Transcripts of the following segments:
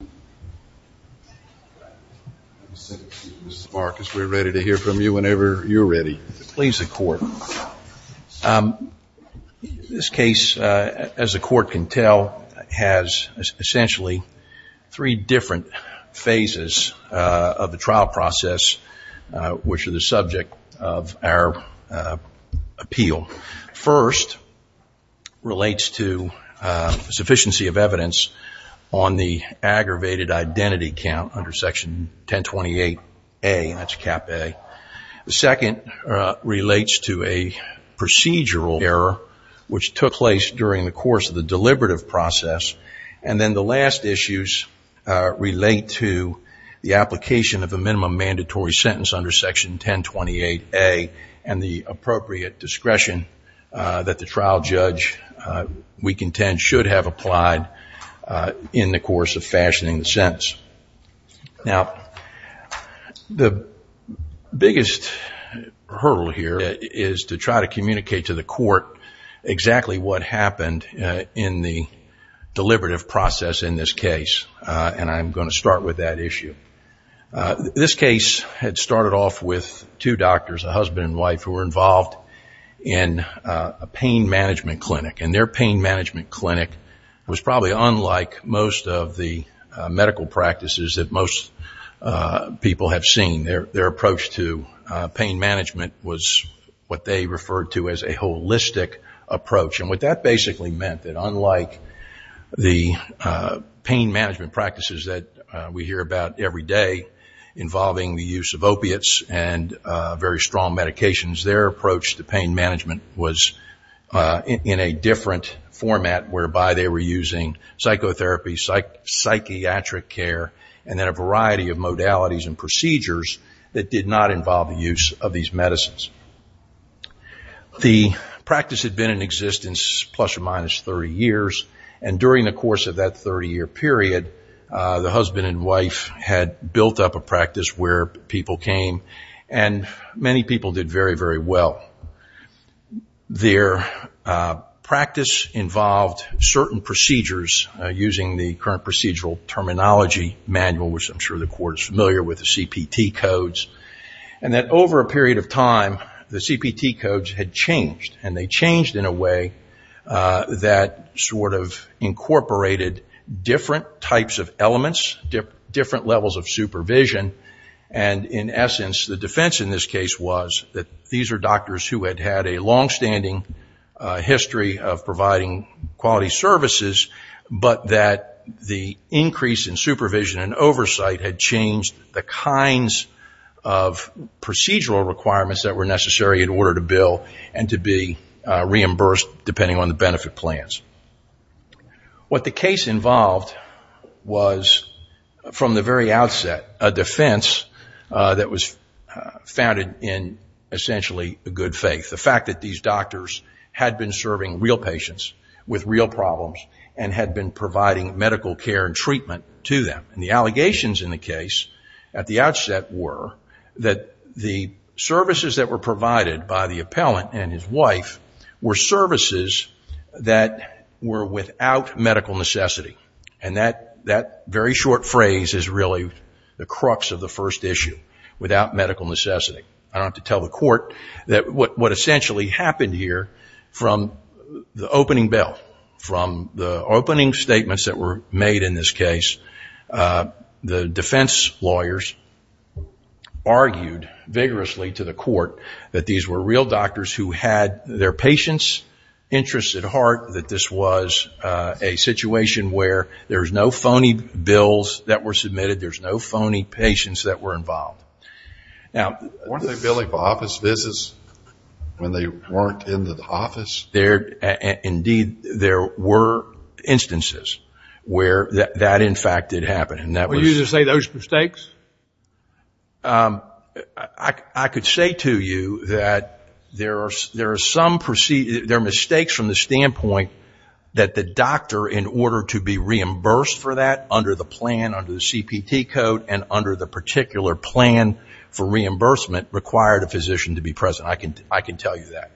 This case, as the Court can tell, has essentially three different phases of the trial process which are the subject of our appeal. First relates to sufficiency of evidence on the aggravated identity count under Section 1028A, that's Cap A. Second relates to a procedural error which took place during the course of the deliberative process. And then the last issues relate to the application of a minimum mandatory sentence under Section 1028A and the appropriate discretion that the trial judge, we contend, should have applied in the course of fashioning the sentence. Now, the biggest hurdle here is to try to communicate to the Court exactly what happened in the deliberative process in this case, and I'm going to start with that issue. This case had started off with two doctors, a husband and wife, who were involved in a pain management clinic. And their pain management clinic was probably unlike most of the medical practices that most people have seen. Their approach to pain management was what they referred to as a holistic approach. And what that basically meant, that unlike the pain management practices that we hear about every day involving the use of opiates and very strong medications, their approach to pain management was in a different format whereby they were using psychotherapy, psychiatric care, and then a variety of modalities and procedures that did not involve the use of these medicines. The practice had been in existence plus or minus 30 years, and during the course of that 30-year period, the husband and wife had built up a practice where people came. And many people did very, very well. Their practice involved certain procedures using the current procedural terminology manual, which I'm sure the Court is familiar with, the CPT codes. And then over a period of time, the CPT codes had changed, and they changed in a way that sort of incorporated different types of elements, different levels of supervision. And in essence, the defense in this case was that these are doctors who had had a longstanding history of providing quality services, but that the increase in supervision and oversight had changed the kinds of procedural requirements that were necessary in order to bill and to be reimbursed depending on the benefit plans. What the case involved was, from the very outset, a defense that was founded in essentially good faith, the fact that these doctors had been serving real patients with real problems and had been providing medical care and treatment to them. And the allegations in the case at the outset were that the services that were provided by the appellant and his wife were services that were without medical necessity. And that very short phrase is really the crux of the first issue, without medical necessity. I don't have to tell the Court that what essentially happened here from the opening bill, from the opening statements that were made in this case, the defense lawyers argued vigorously to the Court that these were real doctors who had their patients' interests at heart, that this was a situation where there's no phony bills that were submitted, there's no phony patients that were involved. Weren't they billing for office visits when they weren't in the office? Indeed, there were instances where that, in fact, did happen. Were you to say those mistakes? I could say to you that there are mistakes from the standpoint that the doctor, in order to be reimbursed for that under the plan, under the CPT code, and under the particular plan for reimbursement, required a physician to be present. I can tell you that.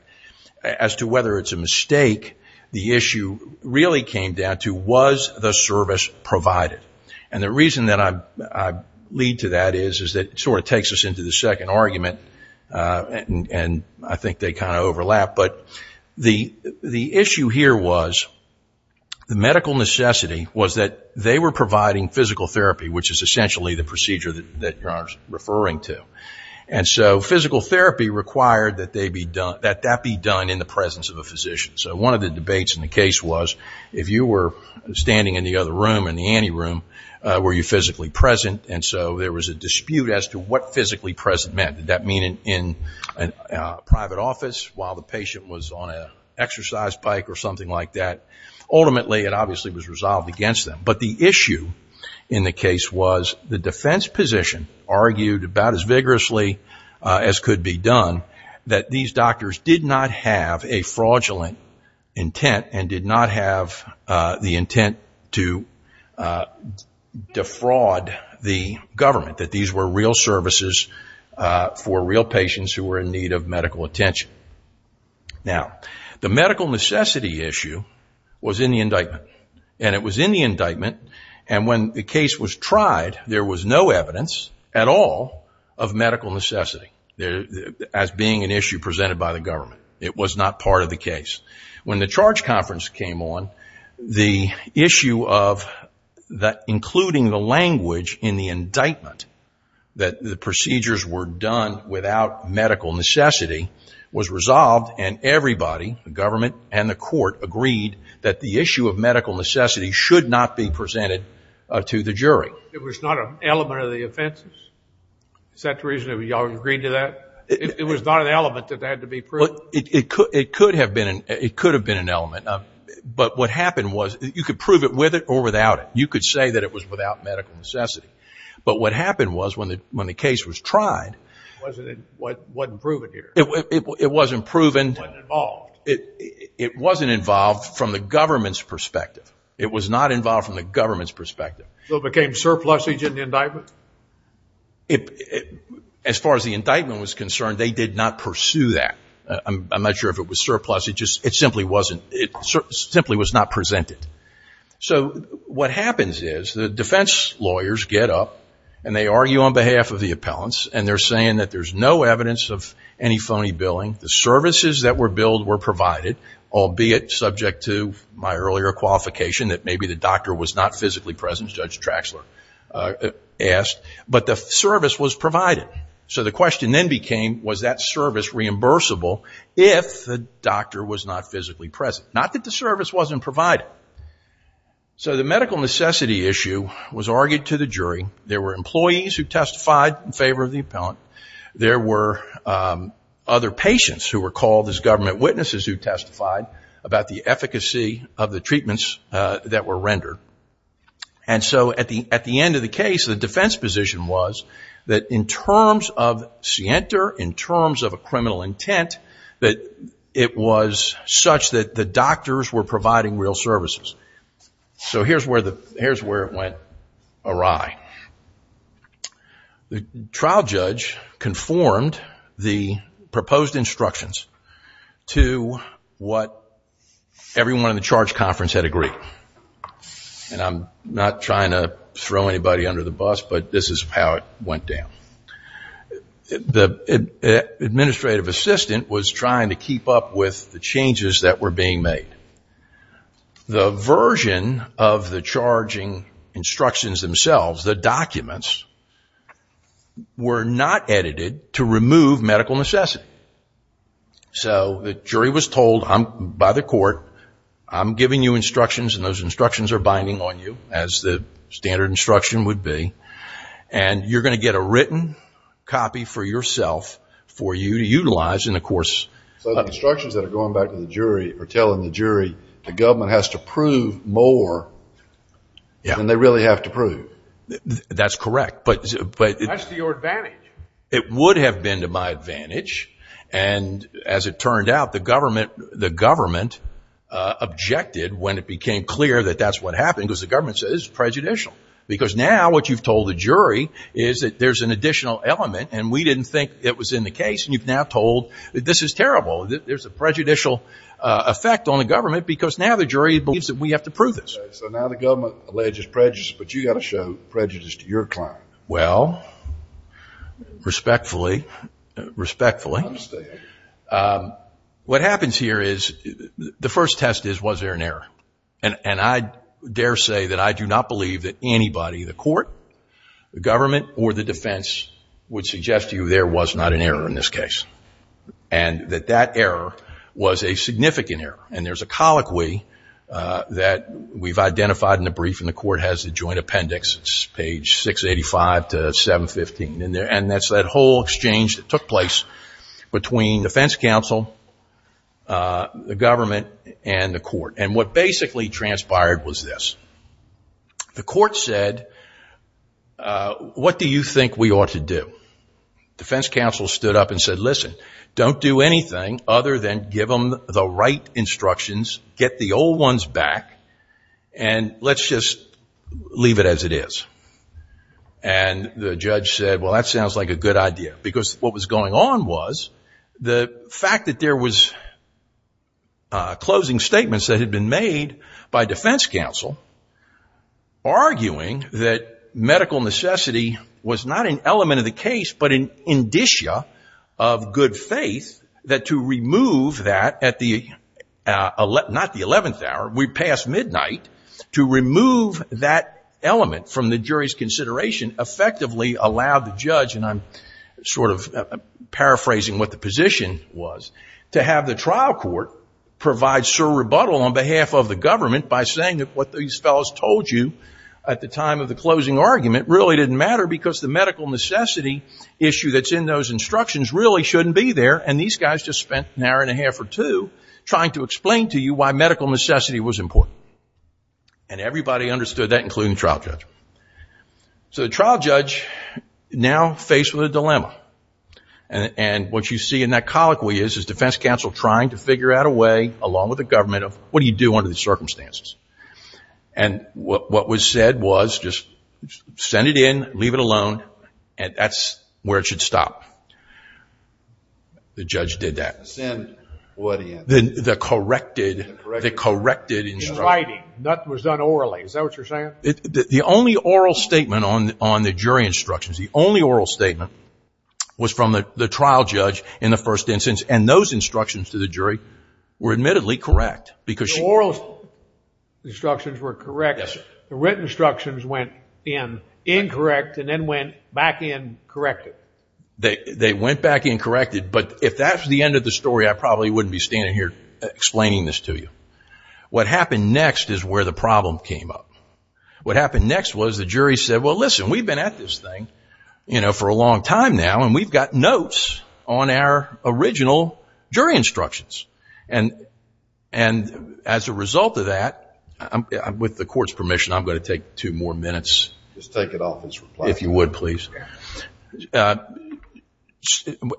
As to whether it's a mistake, the issue really came down to, was the service provided? And the reason that I lead to that is that it sort of takes us into the second argument, and I think they kind of overlap. But the issue here was, the medical necessity was that they were providing physical therapy, which is essentially the procedure that you're referring to. And so physical therapy required that that be done in the presence of a physician. So one of the debates in the case was, if you were standing in the other room, in the ante room, were you physically present? And so there was a dispute as to what physically present meant. Did that mean in a private office while the patient was on an exercise bike or something like that? Ultimately, it obviously was resolved against them. But the issue in the case was, the defense position argued about as vigorously as could be done, that these doctors did not have a fraudulent intent and did not have the intent to defraud the government, that these were real services for real patients who were in need of medical attention. Now, the medical necessity issue was in the indictment. And it was in the indictment, and when the case was tried, there was no evidence at all of medical necessity as being an issue presented by the government. When the charge conference came on, the issue of including the language in the indictment, that the procedures were done without medical necessity, was resolved, and everybody, the government and the court, agreed that the issue of medical necessity should not be presented to the jury. It was not an element of the offenses? Is that the reason you all agreed to that? It was not an element that had to be proven? Well, it could have been an element. But what happened was, you could prove it with it or without it. You could say that it was without medical necessity. But what happened was, when the case was tried. It wasn't proven here? It wasn't proven. It wasn't involved? It wasn't involved from the government's perspective. It was not involved from the government's perspective. So it became surplusage in the indictment? As far as the indictment was concerned, they did not pursue that. I'm not sure if it was surplusage. It simply was not presented. So what happens is, the defense lawyers get up, and they argue on behalf of the appellants, and they're saying that there's no evidence of any phony billing. The services that were billed were provided, albeit subject to my earlier qualification that maybe the doctor was not physically present, as Judge Traxler asked. But the service was provided. So the question then became, was that service reimbursable if the doctor was not physically present? Not that the service wasn't provided. So the medical necessity issue was argued to the jury. There were employees who testified in favor of the appellant. There were other patients who were called as government witnesses who testified about the efficacy of the treatments that were rendered. And so at the end of the case, the defense position was that in terms of scienter, in terms of a criminal intent, that it was such that the doctors were providing real services. So here's where it went awry. The trial judge conformed the proposed instructions to what everyone in the charge conference had agreed. And I'm not trying to throw anybody under the bus, but this is how it went down. The administrative assistant was trying to keep up with the changes that were being made. The version of the charging instructions themselves, the documents, were not edited to remove medical necessity. So the jury was told by the court, I'm giving you instructions, and those instructions are binding on you, as the standard instruction would be. And you're going to get a written copy for yourself for you to utilize in the course. So the instructions that are going back to the jury are telling the jury, the government has to prove more than they really have to prove. That's correct. That's to your advantage. It would have been to my advantage. And as it turned out, the government objected when it became clear that that's what happened, because the government said it was prejudicial. Because now what you've told the jury is that there's an additional element, and we didn't think it was in the case, and you've now told that this is terrible, that there's a prejudicial effect on the government, because now the jury believes that we have to prove this. So now the government alleges prejudice, but you've got to show prejudice to your client. Well, respectfully, respectfully. I understand. What happens here is the first test is was there an error. And I dare say that I do not believe that anybody, the court, the government, or the defense would suggest to you there was not an error in this case, and that that error was a significant error. And there's a colloquy that we've identified in the brief, and the court has the joint appendix, page 685 to 715. And that's that whole exchange that took place between defense counsel, the government, and the court. And what basically transpired was this. The court said, what do you think we ought to do? Defense counsel stood up and said, listen, don't do anything other than give them the right instructions, get the old ones back, and let's just leave it as it is. And the judge said, well, that sounds like a good idea, because what was going on was the fact that there was closing statements that had been made by defense counsel, arguing that medical necessity was not an element of the case, but an indicia of good faith, that to remove that at the, not the 11th hour, we passed midnight, to remove that element from the jury's consideration effectively allowed the judge, and I'm sort of paraphrasing what the position was, to have the trial court provide sur rebuttal on behalf of the government by saying that what these fellows told you at the time of the closing argument really didn't matter, because the medical necessity issue that's in those instructions really shouldn't be there, and these guys just spent an hour and a half or two trying to explain to you why medical necessity was important. And everybody understood that, including the trial judge. So the trial judge now faced with a dilemma. And what you see in that colloquy is, is defense counsel trying to figure out a way, along with the government, of what do you do under these circumstances? And what was said was, just send it in, leave it alone, and that's where it should stop. The judge did that. Send what in? The corrected, the corrected instruction. In writing, nothing was done orally. Is that what you're saying? The only oral statement on the jury instructions, the only oral statement was from the trial judge in the first instance, and those instructions to the jury were admittedly correct. The oral instructions were correct. Yes, sir. The written instructions went in incorrect and then went back in corrected. They went back in corrected, but if that's the end of the story, I probably wouldn't be standing here explaining this to you. What happened next is where the problem came up. What happened next was the jury said, well, listen, we've been at this thing for a long time now, and we've got notes on our original jury instructions. And as a result of that, with the court's permission, I'm going to take two more minutes. Just take it off his reply. If you would, please.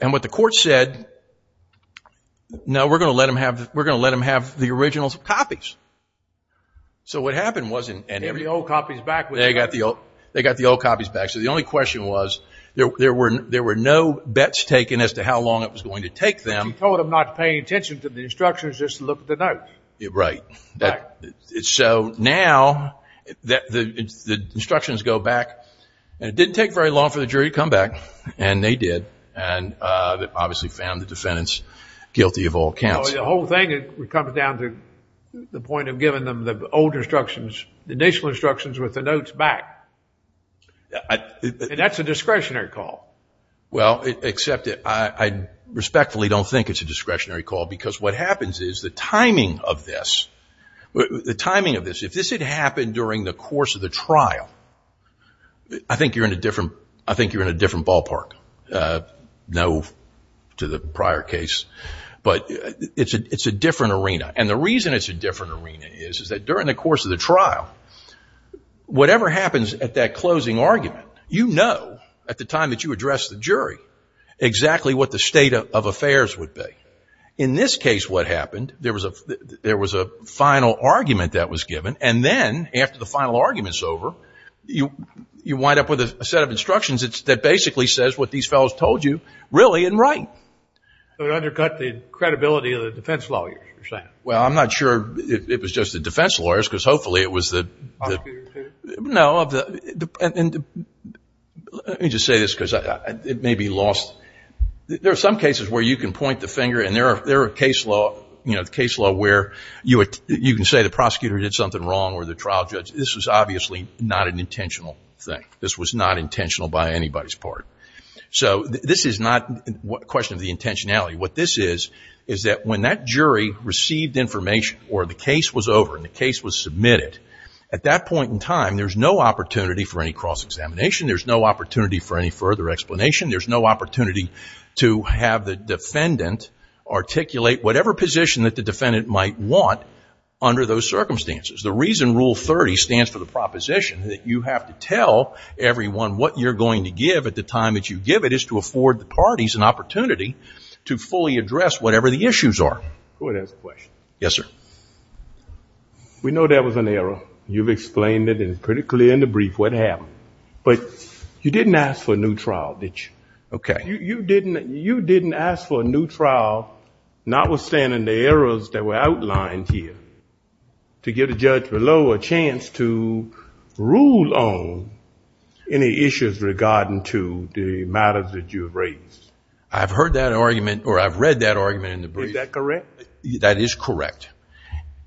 And what the court said, no, we're going to let them have the original copies. So what happened was they got the old copies back. So the only question was there were no bets taken as to how long it was going to take them. He told them not to pay attention to the instructions, just look at the notes. Right. So now the instructions go back, and it didn't take very long for the jury to come back, and they did, and obviously found the defendants guilty of all counts. The whole thing comes down to the point of giving them the old instructions, the initial instructions with the notes back. That's a discretionary call. Well, except I respectfully don't think it's a discretionary call, because what happens is the timing of this, if this had happened during the course of the trial, I think you're in a different ballpark. No to the prior case. But it's a different arena. And the reason it's a different arena is that during the course of the trial, whatever happens at that closing argument, you know at the time that you address the jury exactly what the state of affairs would be. In this case what happened, there was a final argument that was given, and then after the final argument's over, you wind up with a set of instructions that basically says what these fellows told you really and right. So it undercut the credibility of the defense lawyers, you're saying. Well, I'm not sure it was just the defense lawyers, because hopefully it was the. Prosecutors. No. Let me just say this, because it may be lost. There are some cases where you can point the finger, and there are case law, you know, this was obviously not an intentional thing. This was not intentional by anybody's part. So this is not a question of the intentionality. What this is is that when that jury received information or the case was over and the case was submitted, at that point in time, there's no opportunity for any cross-examination. There's no opportunity for any further explanation. There's no opportunity to have the defendant articulate whatever position that the defendant might want under those circumstances. The reason Rule 30 stands for the proposition that you have to tell everyone what you're going to give at the time that you give it is to afford the parties an opportunity to fully address whatever the issues are. Go ahead and answer the question. Yes, sir. We know that was an error. You've explained it pretty clearly in the brief what happened. But you didn't ask for a new trial, did you? Okay. You didn't ask for a new trial, notwithstanding the errors that were outlined here, to give the judge below a chance to rule on any issues regarding to the matters that you have raised. I've heard that argument or I've read that argument in the brief. Is that correct? That is correct.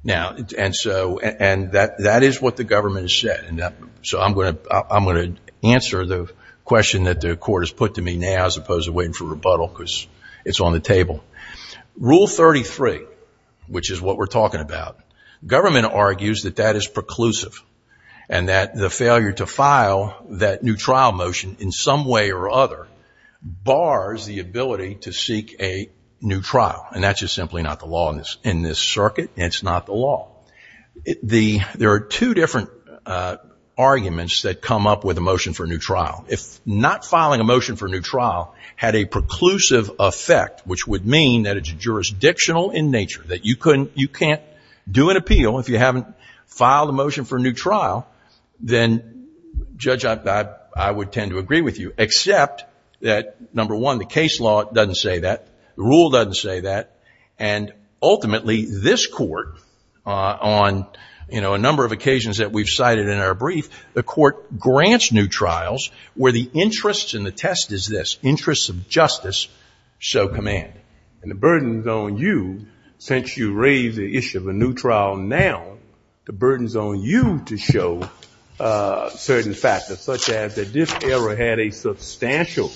And that is what the government has said. So I'm going to answer the question that the court has put to me now as opposed to waiting for rebuttal because it's on the table. Rule 33, which is what we're talking about, government argues that that is preclusive and that the failure to file that new trial motion in some way or other bars the ability to seek a new trial. And that's just simply not the law in this circuit and it's not the law. There are two different arguments that come up with a motion for a new trial. If not filing a motion for a new trial had a preclusive effect, which would mean that it's jurisdictional in nature, that you can't do an appeal if you haven't filed a motion for a new trial, then, Judge, I would tend to agree with you, except that, number one, the case law doesn't say that. The rule doesn't say that. And ultimately, this court on a number of occasions that we've cited in our trials, where the interest in the test is this, interests of justice show command. And the burden is on you, since you raise the issue of a new trial now, the burden is on you to show certain factors, such as that this error had a substantial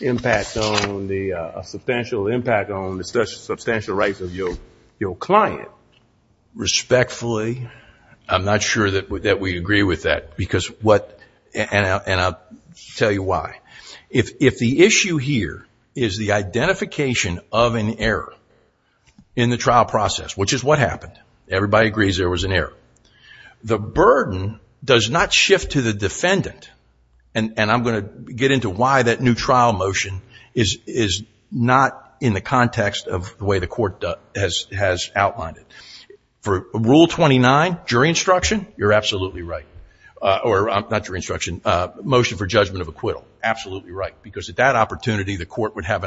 impact on the substantial rights of your client. Respectfully, I'm not sure that we agree with that. And I'll tell you why. If the issue here is the identification of an error in the trial process, which is what happened. Everybody agrees there was an error. The burden does not shift to the defendant. And I'm going to get into why that new trial motion is not in the context of the way the court has outlined it. For Rule 29, jury instruction, you're absolutely right. Or, not jury instruction, motion for judgment of acquittal. Absolutely right. Because at that opportunity, the court would have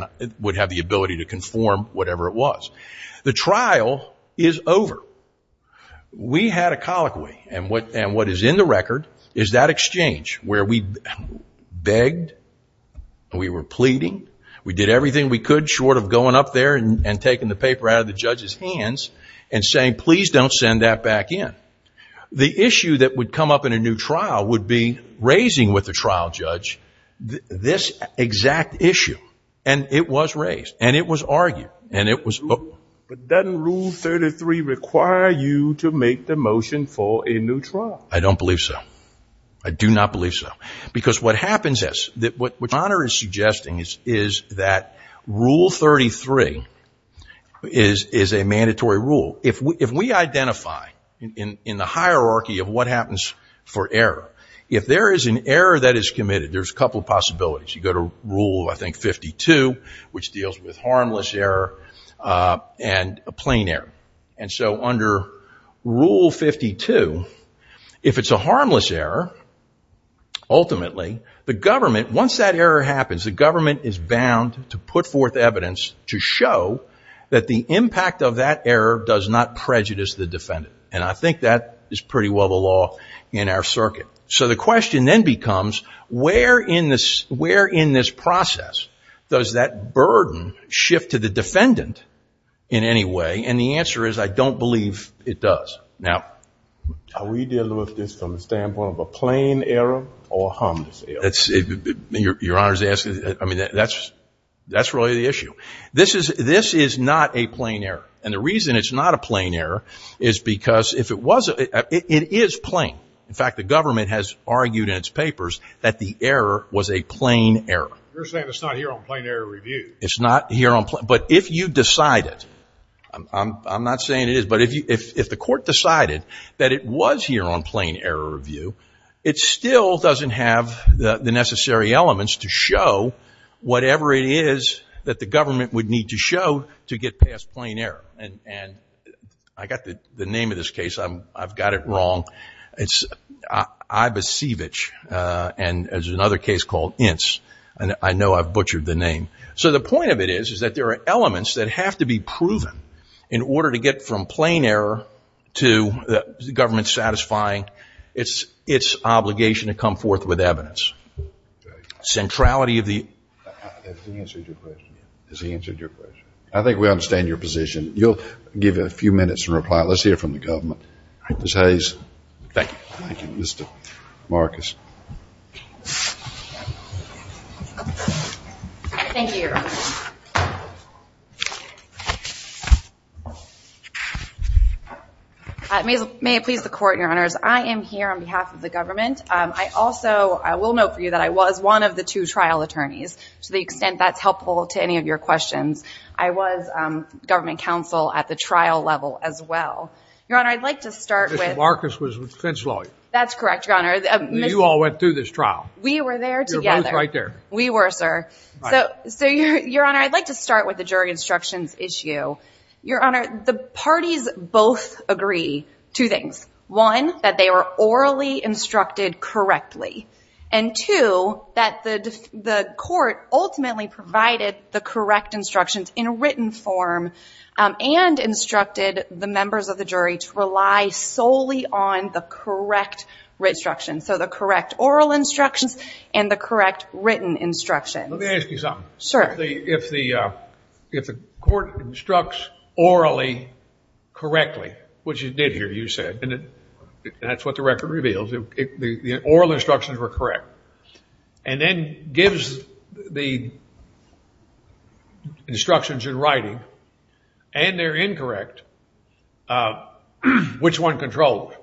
the ability to conform whatever it was. The trial is over. We had a colloquy. And what is in the record is that exchange, where we begged, we were pleading, we did everything we could, short of going up there and taking the paper out of the judge's hands and saying, please don't send that back in. The issue that would come up in a new trial would be raising with the trial judge this exact issue. And it was raised. And it was argued. But doesn't Rule 33 require you to make the motion for a new trial? I don't believe so. I do not believe so. Because what happens is, what Connor is suggesting is that Rule 33 is a mandatory rule. If we identify in the hierarchy of what happens for error, if there is an error that is committed, there's a couple of possibilities. You go to Rule, I think, 52, which deals with harmless error and a plain error. And so under Rule 52, if it's a harmless error, ultimately, the government, once that error happens, the government is bound to put forth evidence to show that the impact of that error does not prejudice the defendant. And I think that is pretty well the law in our circuit. So the question then becomes, where in this process does that burden shift to the defendant in any way? And the answer is, I don't believe it does. Now, are we dealing with this from the standpoint of a plain error or a harmless error? Your Honor is asking, I mean, that's really the issue. This is not a plain error. And the reason it's not a plain error is because if it was, it is plain. In fact, the government has argued in its papers that the error was a plain error. You're saying it's not here on plain error review. It's not here on plain. But if you decide it, I'm not saying it is, but if the court decided that it was here on plain error review, it still doesn't have the necessary elements to show whatever it is that the government would need to show to get past plain error. And I got the name of this case. I've got it wrong. It's Ibecevich, and there's another case called Ince. I know I've butchered the name. So the point of it is, is that there are elements that have to be proven in order to get from plain error to the government satisfying its obligation to come forth with evidence. The centrality of the... Has he answered your question yet? Has he answered your question? I think we understand your position. You'll give a few minutes to reply. Let's hear from the government. Ms. Hayes. Thank you. Thank you, Mr. Marcus. Thank you, Your Honor. May it please the Court, Your Honors. I am here on behalf of the government. I also will note for you that I was one of the two trial attorneys, to the extent that's helpful to any of your questions. I was government counsel at the trial level as well. Your Honor, I'd like to start with... Mr. Marcus was defense lawyer. That's correct, Your Honor. You all went through this trial. We were there together. You're both right there. We were, sir. So, Your Honor, I'd like to start with the jury instructions issue. Your Honor, the parties both agree two things. One, that they were orally instructed correctly. And two, that the court ultimately provided the correct instructions in written form and instructed the members of the jury to rely solely on the correct instructions, so the correct oral instructions and the correct written instructions. Let me ask you something. Sure. If the court instructs orally correctly, which it did here, you said, and that's what the record reveals, the oral instructions were correct, and then gives the instructions in writing, and they're incorrect, which one controls?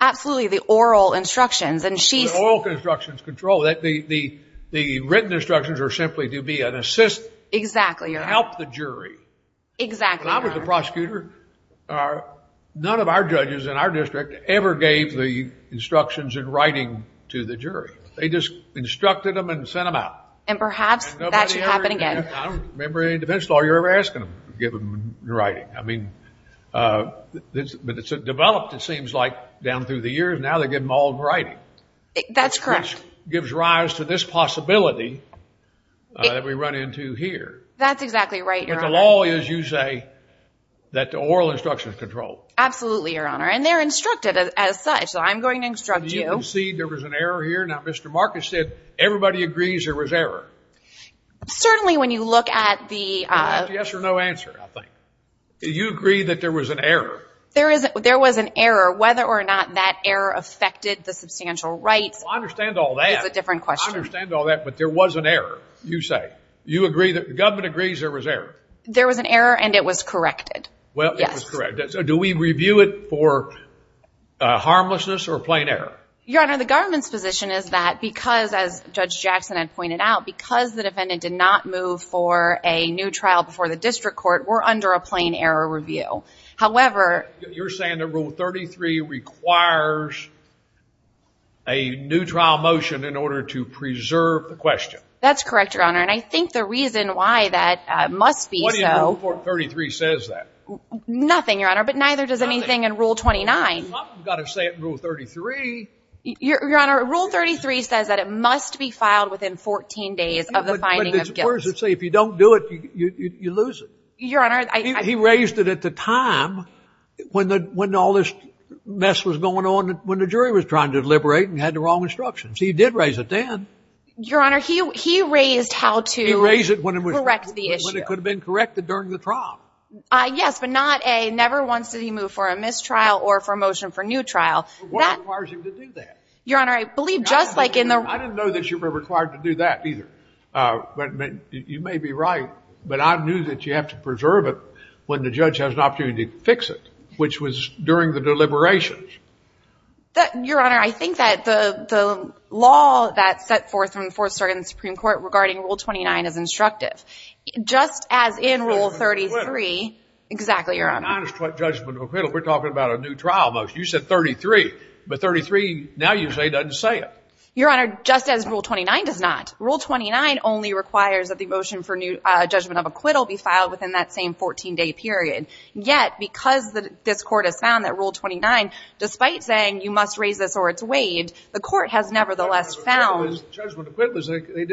Absolutely, the oral instructions. The oral instructions control. The written instructions are simply to be an assist... Exactly, Your Honor. ...to help the jury. Exactly, Your Honor. When I was a prosecutor, none of our judges in our district ever gave the instructions in writing to the jury. They just instructed them and sent them out. And perhaps that should happen again. I don't remember any defense lawyer ever asking them to give them in writing. I mean, but it's developed, it seems like, down through the years. Now they give them all in writing. That's correct. Which gives rise to this possibility that we run into here. That's exactly right, Your Honor. But the law is, you say, that the oral instructions control. Absolutely, Your Honor. And they're instructed as such, so I'm going to instruct you... Now, Mr. Marcus said everybody agrees there was error. Certainly, when you look at the... Yes or no answer, I think. Do you agree that there was an error? There was an error. Whether or not that error affected the substantial rights... I understand all that. ...is a different question. I understand all that, but there was an error, you say. You agree that the government agrees there was error? There was an error, and it was corrected. Well, it was corrected. Yes. So do we review it for harmlessness or plain error? Your Honor, the government's position is that because, as Judge Jackson had pointed out, because the defendant did not move for a new trial before the district court, we're under a plain error review. However... You're saying that Rule 33 requires a new trial motion in order to preserve the question. That's correct, Your Honor, and I think the reason why that must be so... What in Rule 33 says that? Nothing, Your Honor, but neither does anything in Rule 29. I've got to say it in Rule 33. Your Honor, Rule 33 says that it must be filed within 14 days of the finding of guilt. But it's worse to say if you don't do it, you lose it. Your Honor, I... He raised it at the time when all this mess was going on, when the jury was trying to liberate and had the wrong instructions. He did raise it then. Your Honor, he raised how to... He raised it when it was... ...correct the issue. ...when it could have been corrected during the trial. Yes, but not a never once did he move for a mistrial or for a motion for new trial. What requires him to do that? Your Honor, I believe just like in the... I didn't know that you were required to do that either. You may be right, but I knew that you have to preserve it when the judge has an opportunity to fix it, which was during the deliberations. Your Honor, I think that the law that's set forth from the Fourth Circuit in the Supreme Court regarding Rule 29 is instructive. Just as in Rule 33... Judgment of acquittal. Exactly, Your Honor. Judgment of acquittal. We're talking about a new trial motion. You said 33, but 33 now usually doesn't say it. Your Honor, just as Rule 29 does not. Rule 29 only requires that the motion for judgment of acquittal be filed within that same 14-day period. Yet, because this Court has found that Rule 29, despite saying you must raise this or it's weighed, the Court has nevertheless found... Judgment of acquittal, they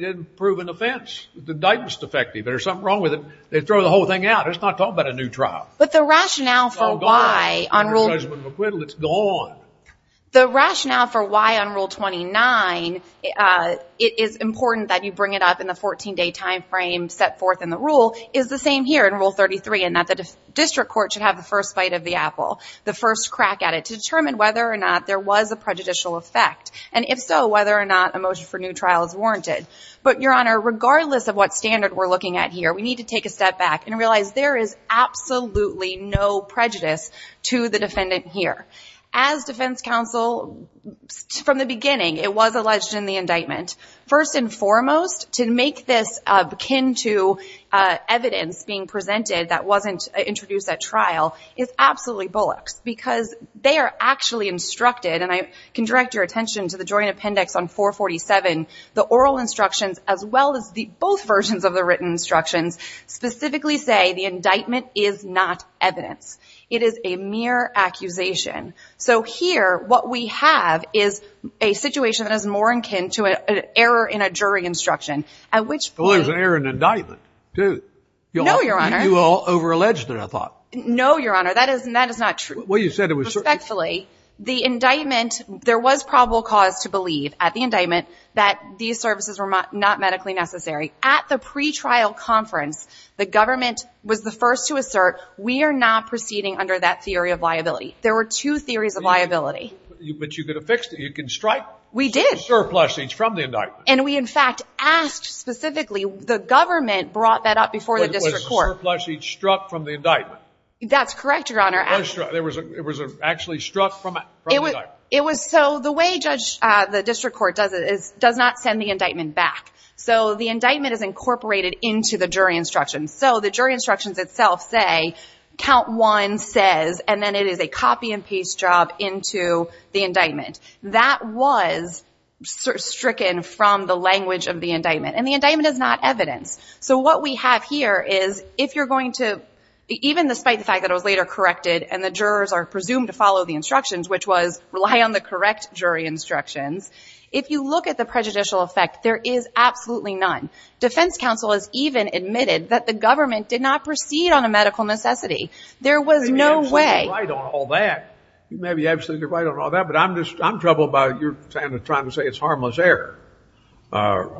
didn't prove an offense. The indictment's defective. There's something wrong with it. They throw the whole thing out. It's not talking about a new trial. But the rationale for why on Rule... It's all gone. Judgment of acquittal, it's gone. The rationale for why on Rule 29 it is important that you bring it up in the 14-day time frame set forth in the rule is the same here in Rule 33 in that the district court should have the first bite of the apple, the first crack at it to determine whether or not there was a prejudicial effect, and if so, whether or not a motion for new trial is warranted. But, Your Honor, regardless of what standard we're looking at here, we need to take a step back and realize there is absolutely no prejudice to the defendant here. As defense counsel, from the beginning, it was alleged in the indictment. First and foremost, to make this akin to evidence being presented that wasn't introduced at trial is absolutely bullox because they are actually instructed, and I can direct your attention to the joint appendix on 447, the oral instructions as well as both versions of the written instructions specifically say the indictment is not evidence. It is a mere accusation. So here, what we have is a situation that is more akin to an error in a jury instruction, at which point... Well, there's an error in the indictment, too. No, Your Honor. You over-alleged it, I thought. No, Your Honor, that is not true. Well, you said it was... Respectfully, the indictment, there was probable cause to believe at the indictment that these services were not medically necessary. At the pretrial conference, the government was the first to assert we are not proceeding under that theory of liability. There were two theories of liability. But you could have fixed it. You could strike surplus each from the indictment. And we, in fact, asked specifically, the government brought that up before the district court. Was the surplus each struck from the indictment? That's correct, Your Honor. It was actually struck from the indictment. It was so the way the district court does it is it does not send the indictment back. So the indictment is incorporated into the jury instructions. So the jury instructions itself say, count one says, and then it is a copy and paste job into the indictment. That was stricken from the language of the indictment. And the indictment is not evidence. So what we have here is, if you're going to... Even despite the fact that it was later corrected and the jurors are presumed to follow the instructions, which was rely on the correct jury instructions, if you look at the prejudicial effect, there is absolutely none. Defense counsel has even admitted that the government did not proceed on a medical necessity. There was no way... You may be absolutely right on all that. You may be absolutely right on all that. But I'm troubled by your trying to say it's harmless error. I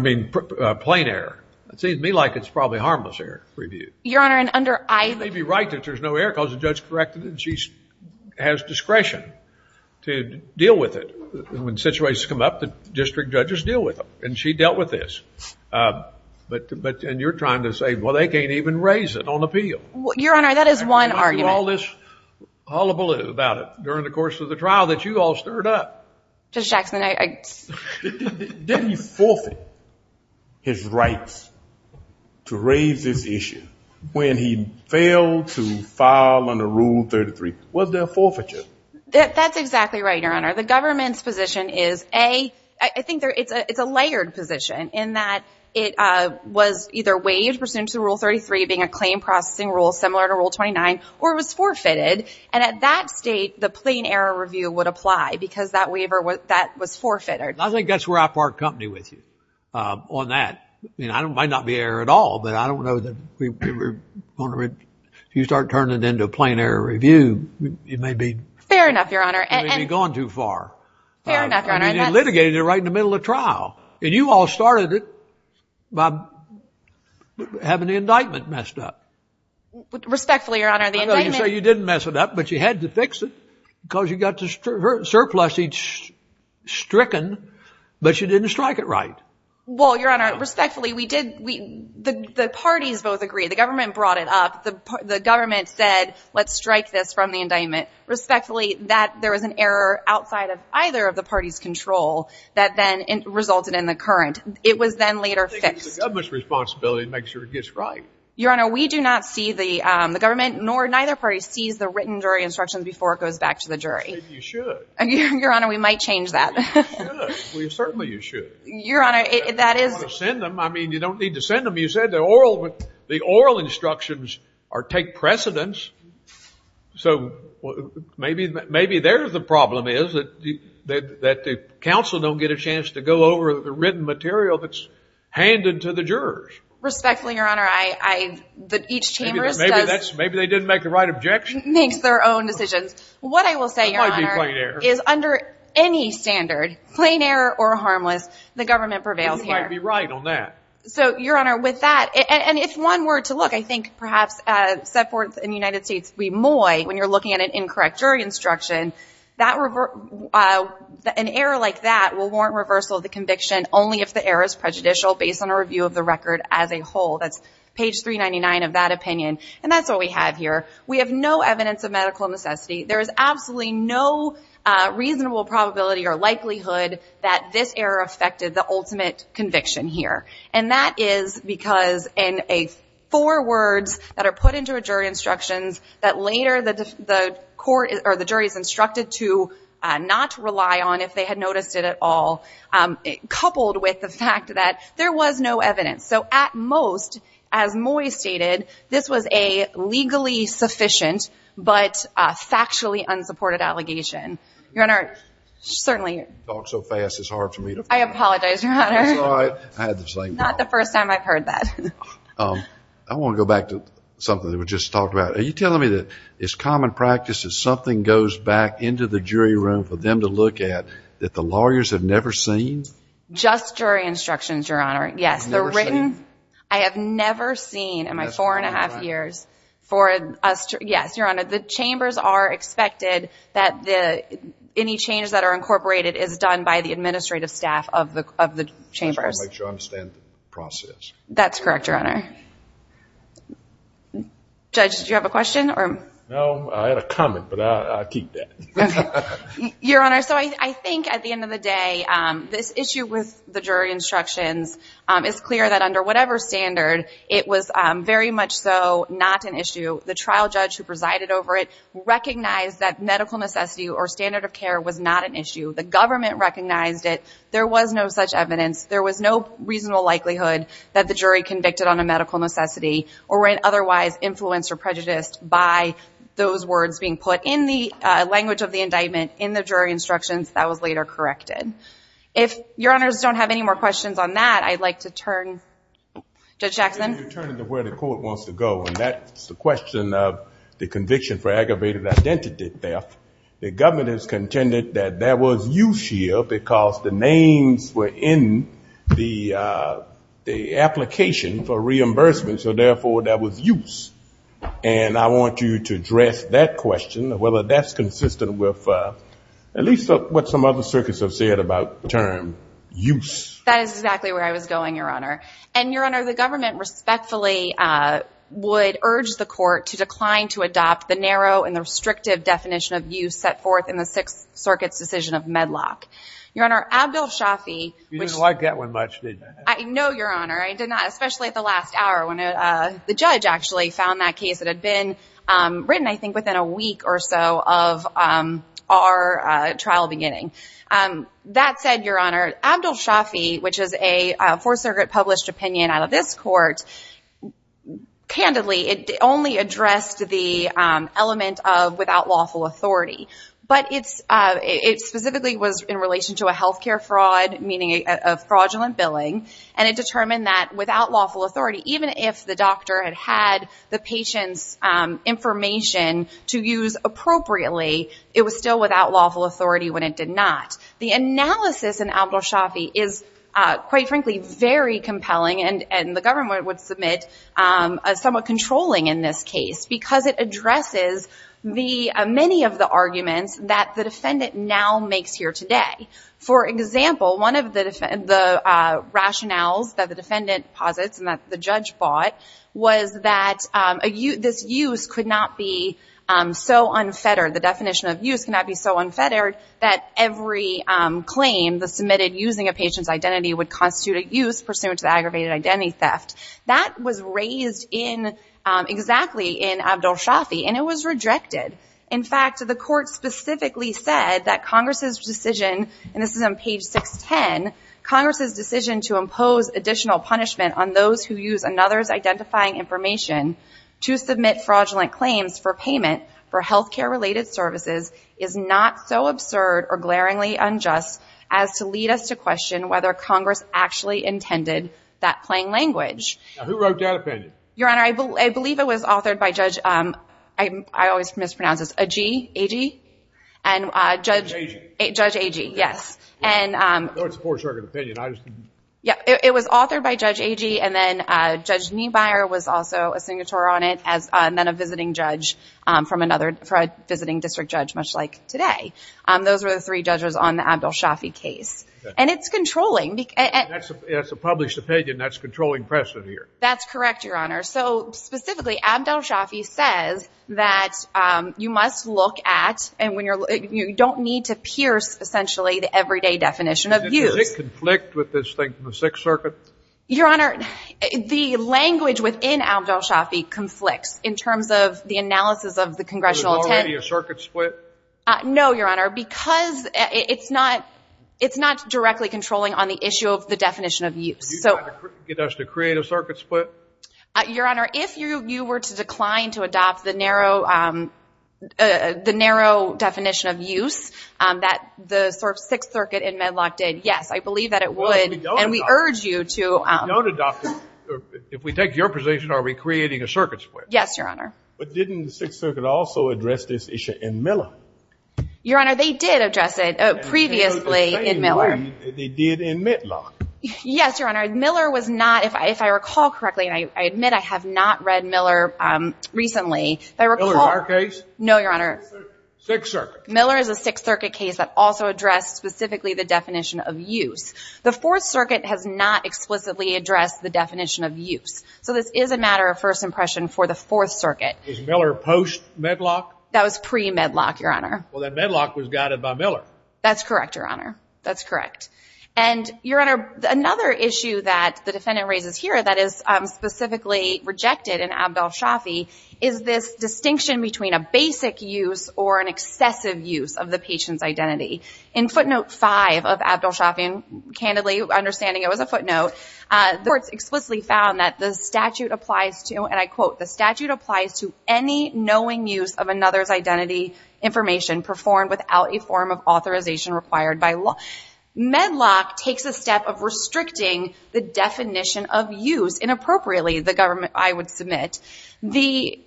mean, plain error. It seems to me like it's probably harmless error reviewed. Your Honor, and under... I may be right that there's no error because the judge corrected it and she has discretion to deal with it. When situations come up, the district judges deal with them. And she dealt with this. And you're trying to say, well, they can't even raise it on appeal. Your Honor, that is one argument. And all this hullabaloo about it during the course of the trial that you all stirred up. Judge Jackson, I... Didn't he forfeit his rights to raise this issue when he failed to file under Rule 33? Was there forfeiture? That's exactly right, Your Honor. The government's position is, A, I think it's a layered position in that it was either waived pursuant to Rule 33 being a claim processing rule similar to Rule 29, or it was forfeited. And at that state, the plain error review would apply because that waiver was forfeited. I think that's where I part company with you on that. I mean, it might not be error at all, but I don't know that... If you start turning it into a plain error review, it may be... Fair enough, Your Honor. It may be gone too far. Fair enough, Your Honor. And you litigated it right in the middle of trial. And you all started it by having the indictment messed up. Respectfully, Your Honor, the indictment... I know you say you didn't mess it up, but you had to fix it because you got the surplus each stricken, but you didn't strike it right. Well, Your Honor, respectfully, we did... The parties both agreed. The government brought it up. The government said, let's strike this from the indictment. Respectfully, there was an error outside of either of the parties' control that then resulted in the current. It was then later fixed. I think it's the government's responsibility to make sure it gets right. Your Honor, we do not see the government, nor neither party sees the written jury instructions before it goes back to the jury. You should. Your Honor, we might change that. You should. Certainly, you should. Your Honor, that is... You don't want to send them. I mean, you don't need to send them. You said the oral instructions take precedence. So maybe there the problem is that the counsel don't get a chance to go over the written material that's handed to the jurors. Respectfully, Your Honor, each chambers does... Maybe they didn't make the right objection. ...makes their own decisions. What I will say, Your Honor, is under any standard, plain error or harmless, the government prevails here. You might be right on that. So, Your Honor, with that, and if one were to look, I think perhaps set forth in the United States, when you're looking at an incorrect jury instruction, an error like that will warrant reversal of the conviction only if the error is prejudicial based on a review of the record as a whole. That's page 399 of that opinion. And that's what we have here. We have no evidence of medical necessity. There is absolutely no reasonable probability or likelihood that this error affected the ultimate conviction here. And that is because in four words that are put into a jury instructions that later the jury is instructed to not rely on if they had noticed it at all, coupled with the fact that there was no evidence. So at most, as Moy stated, this was a legally sufficient but factually unsupported allegation. Your Honor, certainly. You talk so fast, it's hard for me to follow. I apologize, Your Honor. That's all right. I had the same problem. Not the first time I've heard that. I want to go back to something that was just talked about. Are you telling me that it's common practice that something goes back into the jury room for them to look at that the lawyers have never seen? Just jury instructions, Your Honor. Yes, the written. I have never seen in my four and a half years. Yes, Your Honor. The chambers are expected that any changes that are incorporated is done by the administrative staff of the chambers. Just to make sure I understand the process. That's correct, Your Honor. Judge, did you have a question? No, I had a comment, but I'll keep that. Your Honor, so I think at the end of the day, this issue with the jury instructions is clear that under whatever standard, it was very much so not an issue. The trial judge who presided over it recognized that medical necessity or standard of care was not an issue. The government recognized it. There was no such evidence. There was no reasonable likelihood that the jury convicted on a medical necessity or were otherwise influenced or prejudiced by those words being put in the language of the indictment in the jury instructions that was later corrected. If Your Honors don't have any more questions on that, I'd like to turn to Judge Jackson. You're turning to where the court wants to go, and that's the question of the conviction for aggravated identity theft. The government has contended that there was use here because the names were in the application for reimbursement, so, therefore, that was use. And I want you to address that question, whether that's consistent with at least what some other circuits have said about the term use. That is exactly where I was going, Your Honor. And, Your Honor, the government respectfully would urge the court to decline to adopt the narrow and the restrictive definition of use set forth in the Sixth Circuit's decision of Medlock. Your Honor, Abdel Shafi. You didn't like that one much, did you? No, Your Honor. I did not, especially at the last hour when the judge actually found that case. It had been written, I think, within a week or so of our trial beginning. That said, Your Honor, Abdel Shafi, which is a Fourth Circuit published opinion out of this court, candidly it only addressed the element of without lawful authority. But it specifically was in relation to a health care fraud, meaning a fraudulent billing, and it determined that without lawful authority, even if the doctor had had the patient's information to use appropriately, it was still without lawful authority when it did not. The analysis in Abdel Shafi is, quite frankly, very compelling, and the government would submit somewhat controlling in this case because it addresses many of the arguments that the defendant now makes here today. For example, one of the rationales that the defendant posits and that the judge bought was that this use could not be so unfettered, the definition of use could not be so unfettered, that every claim submitted using a patient's identity would constitute a use pursuant to aggravated identity theft. That was raised exactly in Abdel Shafi, and it was rejected. In fact, the court specifically said that Congress's decision, and this is on page 610, Congress's decision to impose additional punishment on those who use another's identifying information to submit fraudulent claims for payment for healthcare-related services is not so absurd or glaringly unjust as to lead us to question whether Congress actually intended that plain language. Now, who wrote that opinion? Your Honor, I believe it was authored by Judge, I always mispronounce this, Agee? Agee? Judge Agee. Judge Agee, yes. I know it's a poor circuit opinion. It was authored by Judge Agee, and then Judge Niebuyer was also a signatory on it, and then a visiting judge for a visiting district judge, much like today. Those were the three judges on the Abdel Shafi case. And it's controlling. That's a published opinion. That's controlling precedent here. That's correct, Your Honor. So specifically, Abdel Shafi says that you must look at, and you don't need to pierce essentially the everyday definition of use. Does it conflict with this thing from the Sixth Circuit? Your Honor, the language within Abdel Shafi conflicts, in terms of the analysis of the congressional intent. Was it already a circuit split? No, Your Honor, because it's not directly controlling on the issue of the definition of use. Did you try to get us to create a circuit split? Your Honor, if you were to decline to adopt the narrow definition of use that the Sixth Circuit and Medlock did, yes, I believe that it would. We don't adopt it. And we urge you to. We don't adopt it. If we take your position, are we creating a circuit split? Yes, Your Honor. But didn't the Sixth Circuit also address this issue in Miller? Your Honor, they did address it previously in Miller. In the same way that they did in Medlock. Yes, Your Honor. Miller was not, if I recall correctly, and I admit I have not read Miller recently. Miller is our case? No, Your Honor. Sixth Circuit. Miller is a Sixth Circuit case that also addressed specifically the definition of use. The Fourth Circuit has not explicitly addressed the definition of use. So this is a matter of first impression for the Fourth Circuit. Is Miller post-Medlock? That was pre-Medlock, Your Honor. Well, then Medlock was guided by Miller. That's correct, Your Honor. That's correct. And, Your Honor, another issue that the defendant raises here that is specifically rejected in Abdel Shafi is this distinction between a basic use or an excessive use of the patient's identity. In footnote 5 of Abdel Shafi, candidly understanding it was a footnote, the courts explicitly found that the statute applies to, and I quote, the statute applies to any knowing use of another's identity information performed without a form of authorization required by law. Medlock takes a step of restricting the definition of use. Inappropriately, the government, I would submit. The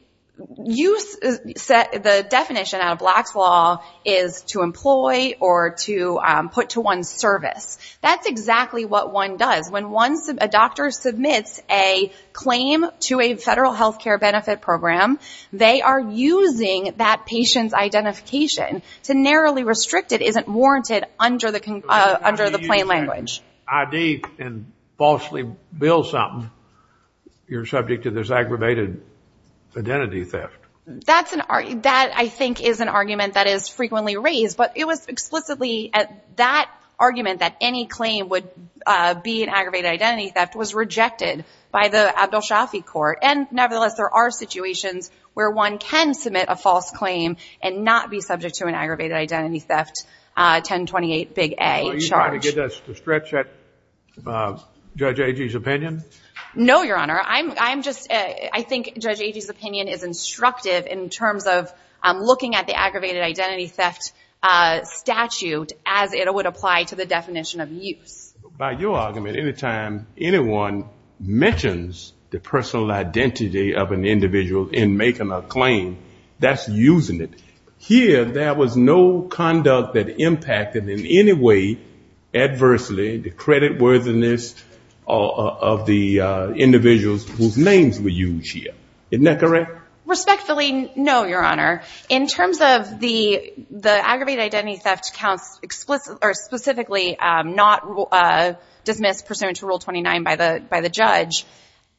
definition out of Black's Law is to employ or to put to one's service. That's exactly what one does. When a doctor submits a claim to a federal health care benefit program, they are using that patient's identification to narrowly restrict it. It isn't warranted under the plain language. If you ID and falsely bill something, you're subject to this aggravated identity theft. That, I think, is an argument that is frequently raised, but it was explicitly that argument that any claim would be an aggravated identity theft was rejected by the Abdel Shafi court. And nevertheless, there are situations where one can submit a false claim and not be subject to an aggravated identity theft 1028 big A charge. Are you trying to get us to stretch Judge Agee's opinion? No, Your Honor. I think Judge Agee's opinion is instructive in terms of looking at the aggravated identity theft statute as it would apply to the definition of use. By your argument, any time anyone mentions the personal identity of an individual in making a claim, that's using it. Here, there was no conduct that impacted in any way adversely the creditworthiness of the individuals whose names were used here. Isn't that correct? Respectfully, no, Your Honor. In terms of the aggravated identity theft counts specifically not dismissed, pursuant to Rule 29 by the judge,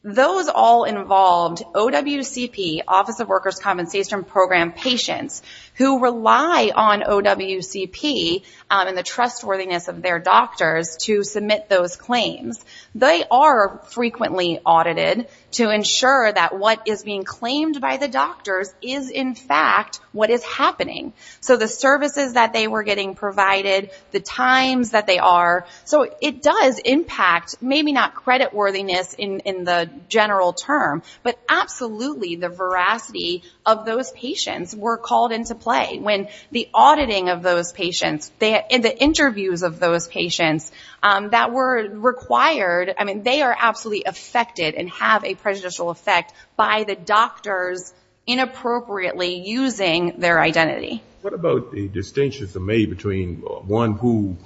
those all involved OWCP, Office of Workers' Compensation Program patients who rely on OWCP and the trustworthiness of their doctors to submit those claims, they are frequently audited to ensure that what is being claimed by the doctors is in fact what is happening. So the services that they were getting provided, the times that they are, so it does impact maybe not creditworthiness in the general term, but absolutely the veracity of those patients were called into play. When the auditing of those patients and the interviews of those patients that were required, I mean, they are absolutely affected and have a prejudicial effect by the doctors inappropriately using their identity. What about the distinctions made between one who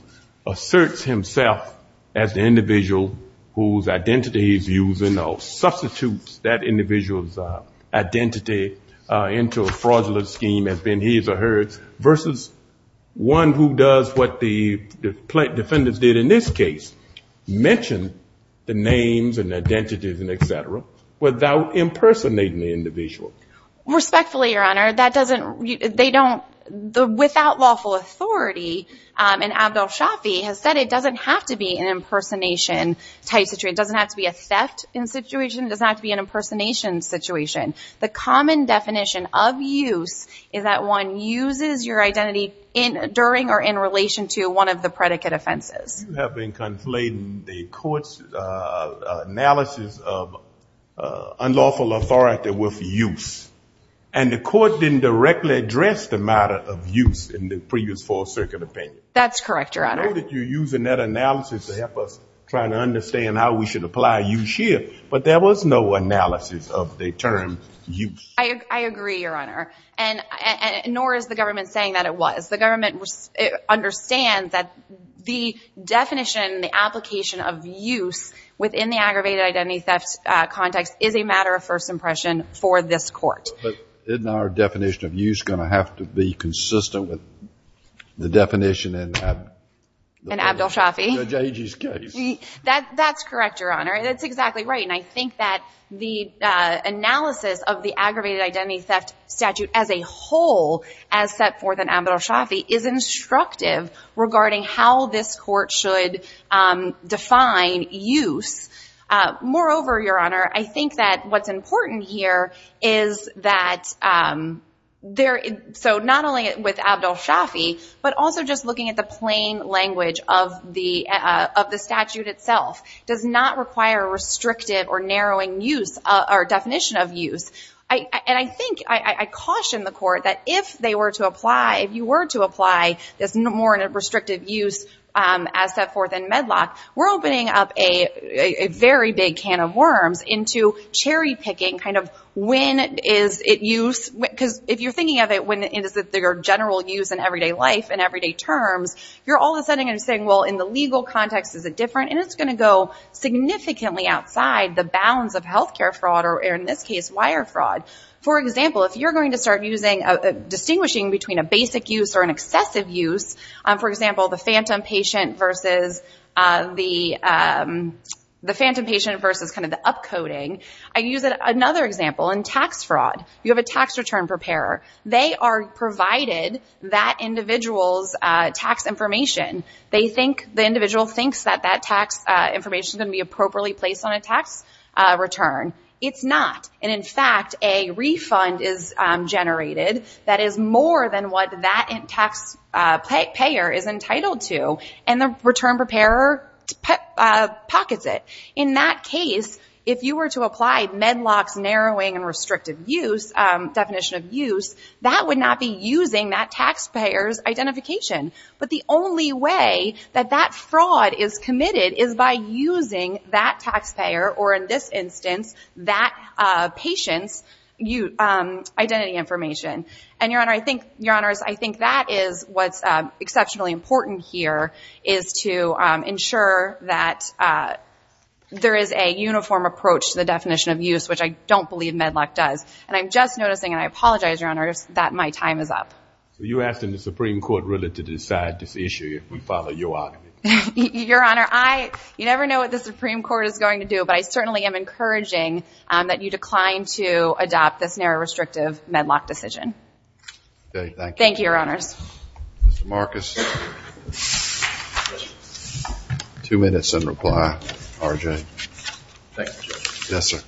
asserts himself as the individual whose identity he's using or substitutes that individual's identity into a fraudulent scheme has been his or hers versus one who does what the plaintiff did in this case, mentioned the names and identities and et cetera, without impersonating the individual? Respectfully, Your Honor, that doesn't, they don't, without lawful authority, and Abdel Shafi has said it doesn't have to be an impersonation type situation. It doesn't have to be a theft situation. It doesn't have to be an impersonation situation. The common definition of use is that one uses your identity during or in relation to one of the predicate offenses. You have been conflating the court's analysis of unlawful authority with use, and the court didn't directly address the matter of use in the previous Fourth Circuit opinion. That's correct, Your Honor. I know that you're using that analysis to help us try to understand how we should apply use here, but there was no analysis of the term use. I agree, Your Honor, and nor is the government saying that it was. The government understands that the definition, the application of use within the aggravated identity theft context is a matter of first impression for this court. But isn't our definition of use going to have to be consistent with the definition in Abdel Shafi's case? That's correct, Your Honor. That's exactly right, and I think that the analysis of the aggravated identity theft statute as a whole, as set forth in Abdel Shafi, is instructive regarding how this court should define use. Moreover, Your Honor, I think that what's important here is that there – so not only with Abdel Shafi, but also just looking at the plain language of the statute itself does not require restrictive or narrowing use or definition of use. And I think – I caution the court that if they were to apply – if you were to apply this more in a restrictive use as set forth in Medlock, we're opening up a very big can of worms into cherry-picking kind of when is it used. Because if you're thinking of it, when is it your general use in everyday life and everyday terms, you're all of a sudden going to be saying, well, in the legal context is it different? And it's going to go significantly outside the bounds of health care fraud or, in this case, wire fraud. For example, if you're going to start using – distinguishing between a basic use or an excessive use, for example, the phantom patient versus the – the phantom patient versus kind of the upcoding. I use another example in tax fraud. You have a tax return preparer. They are provided that individual's tax information. They think – the individual thinks that that tax information is going to be appropriately placed on a tax return. It's not. And, in fact, a refund is generated that is more than what that tax payer is entitled to, and the return preparer pockets it. In that case, if you were to apply Medlock's narrowing and restrictive use – definition of use, that would not be using that taxpayer's identification. But the only way that that fraud is committed is by using that taxpayer, or in this instance, that patient's identity information. And, Your Honor, I think – Your Honors, I think that is what's exceptionally important here, is to ensure that there is a uniform approach to the definition of use, which I don't believe Medlock does. And I'm just noticing, and I apologize, Your Honors, that my time is up. So you're asking the Supreme Court really to decide this issue if we follow your argument? Your Honor, I – you never know what the Supreme Court is going to do, but I certainly am encouraging that you decline to adopt this narrow, restrictive Medlock decision. Okay, thank you. Thank you, Your Honors. Mr. Marcus. Two minutes and reply, R.J. Thank you, Judge. Yes, sir.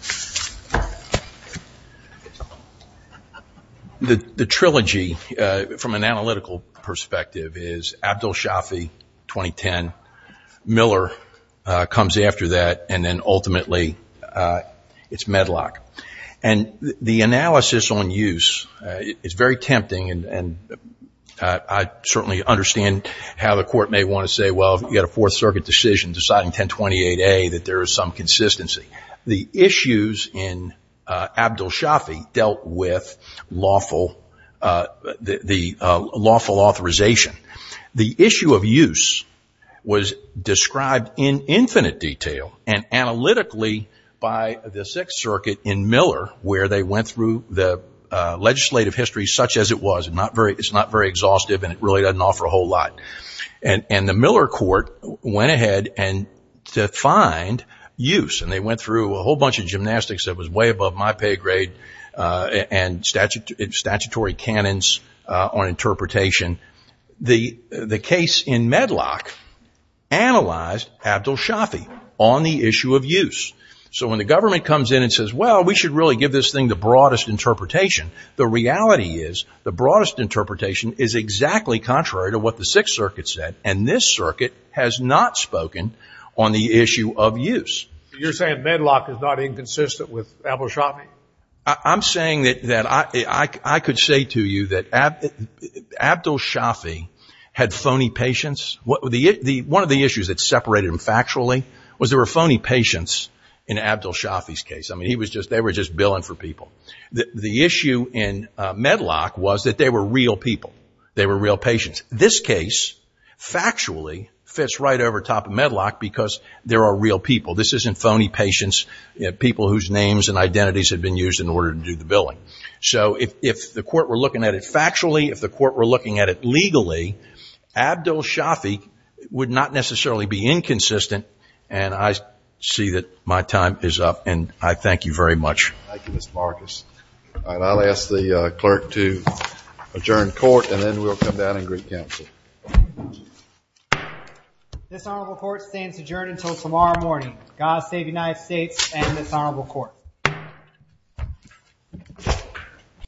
The trilogy, from an analytical perspective, is Abdul Shafi, 2010. Miller comes after that, and then ultimately it's Medlock. And the analysis on use is very tempting, and I certainly understand how the Court may want to say, well, you've got a Fourth Circuit decision deciding 1028A, that there is some consistency. The issues in Abdul Shafi dealt with the lawful authorization. The issue of use was described in infinite detail and analytically by the Sixth Circuit in Miller, where they went through the legislative history such as it was. It's not very exhaustive, and it really doesn't offer a whole lot. And the Miller Court went ahead and defined use, and they went through a whole bunch of gymnastics that was way above my pay grade and statutory canons on interpretation. The case in Medlock analyzed Abdul Shafi on the issue of use. So when the government comes in and says, well, we should really give this thing the broadest interpretation, the reality is the broadest interpretation is exactly contrary to what the Sixth Circuit said, and this circuit has not spoken on the issue of use. You're saying Medlock is not inconsistent with Abdul Shafi? I'm saying that I could say to you that Abdul Shafi had phony patients. One of the issues that separated him factually was there were phony patients in Abdul Shafi's case. I mean, they were just billing for people. The issue in Medlock was that they were real people. They were real patients. This case factually fits right over top of Medlock because there are real people. This isn't phony patients, people whose names and identities have been used in order to do the billing. So if the court were looking at it factually, if the court were looking at it legally, Abdul Shafi would not necessarily be inconsistent. And I see that my time is up, and I thank you very much. Thank you, Mr. Marcus. And I'll ask the clerk to adjourn court, and then we'll come down and greet counsel. This honorable court stands adjourned until tomorrow morning. God save the United States and this honorable court.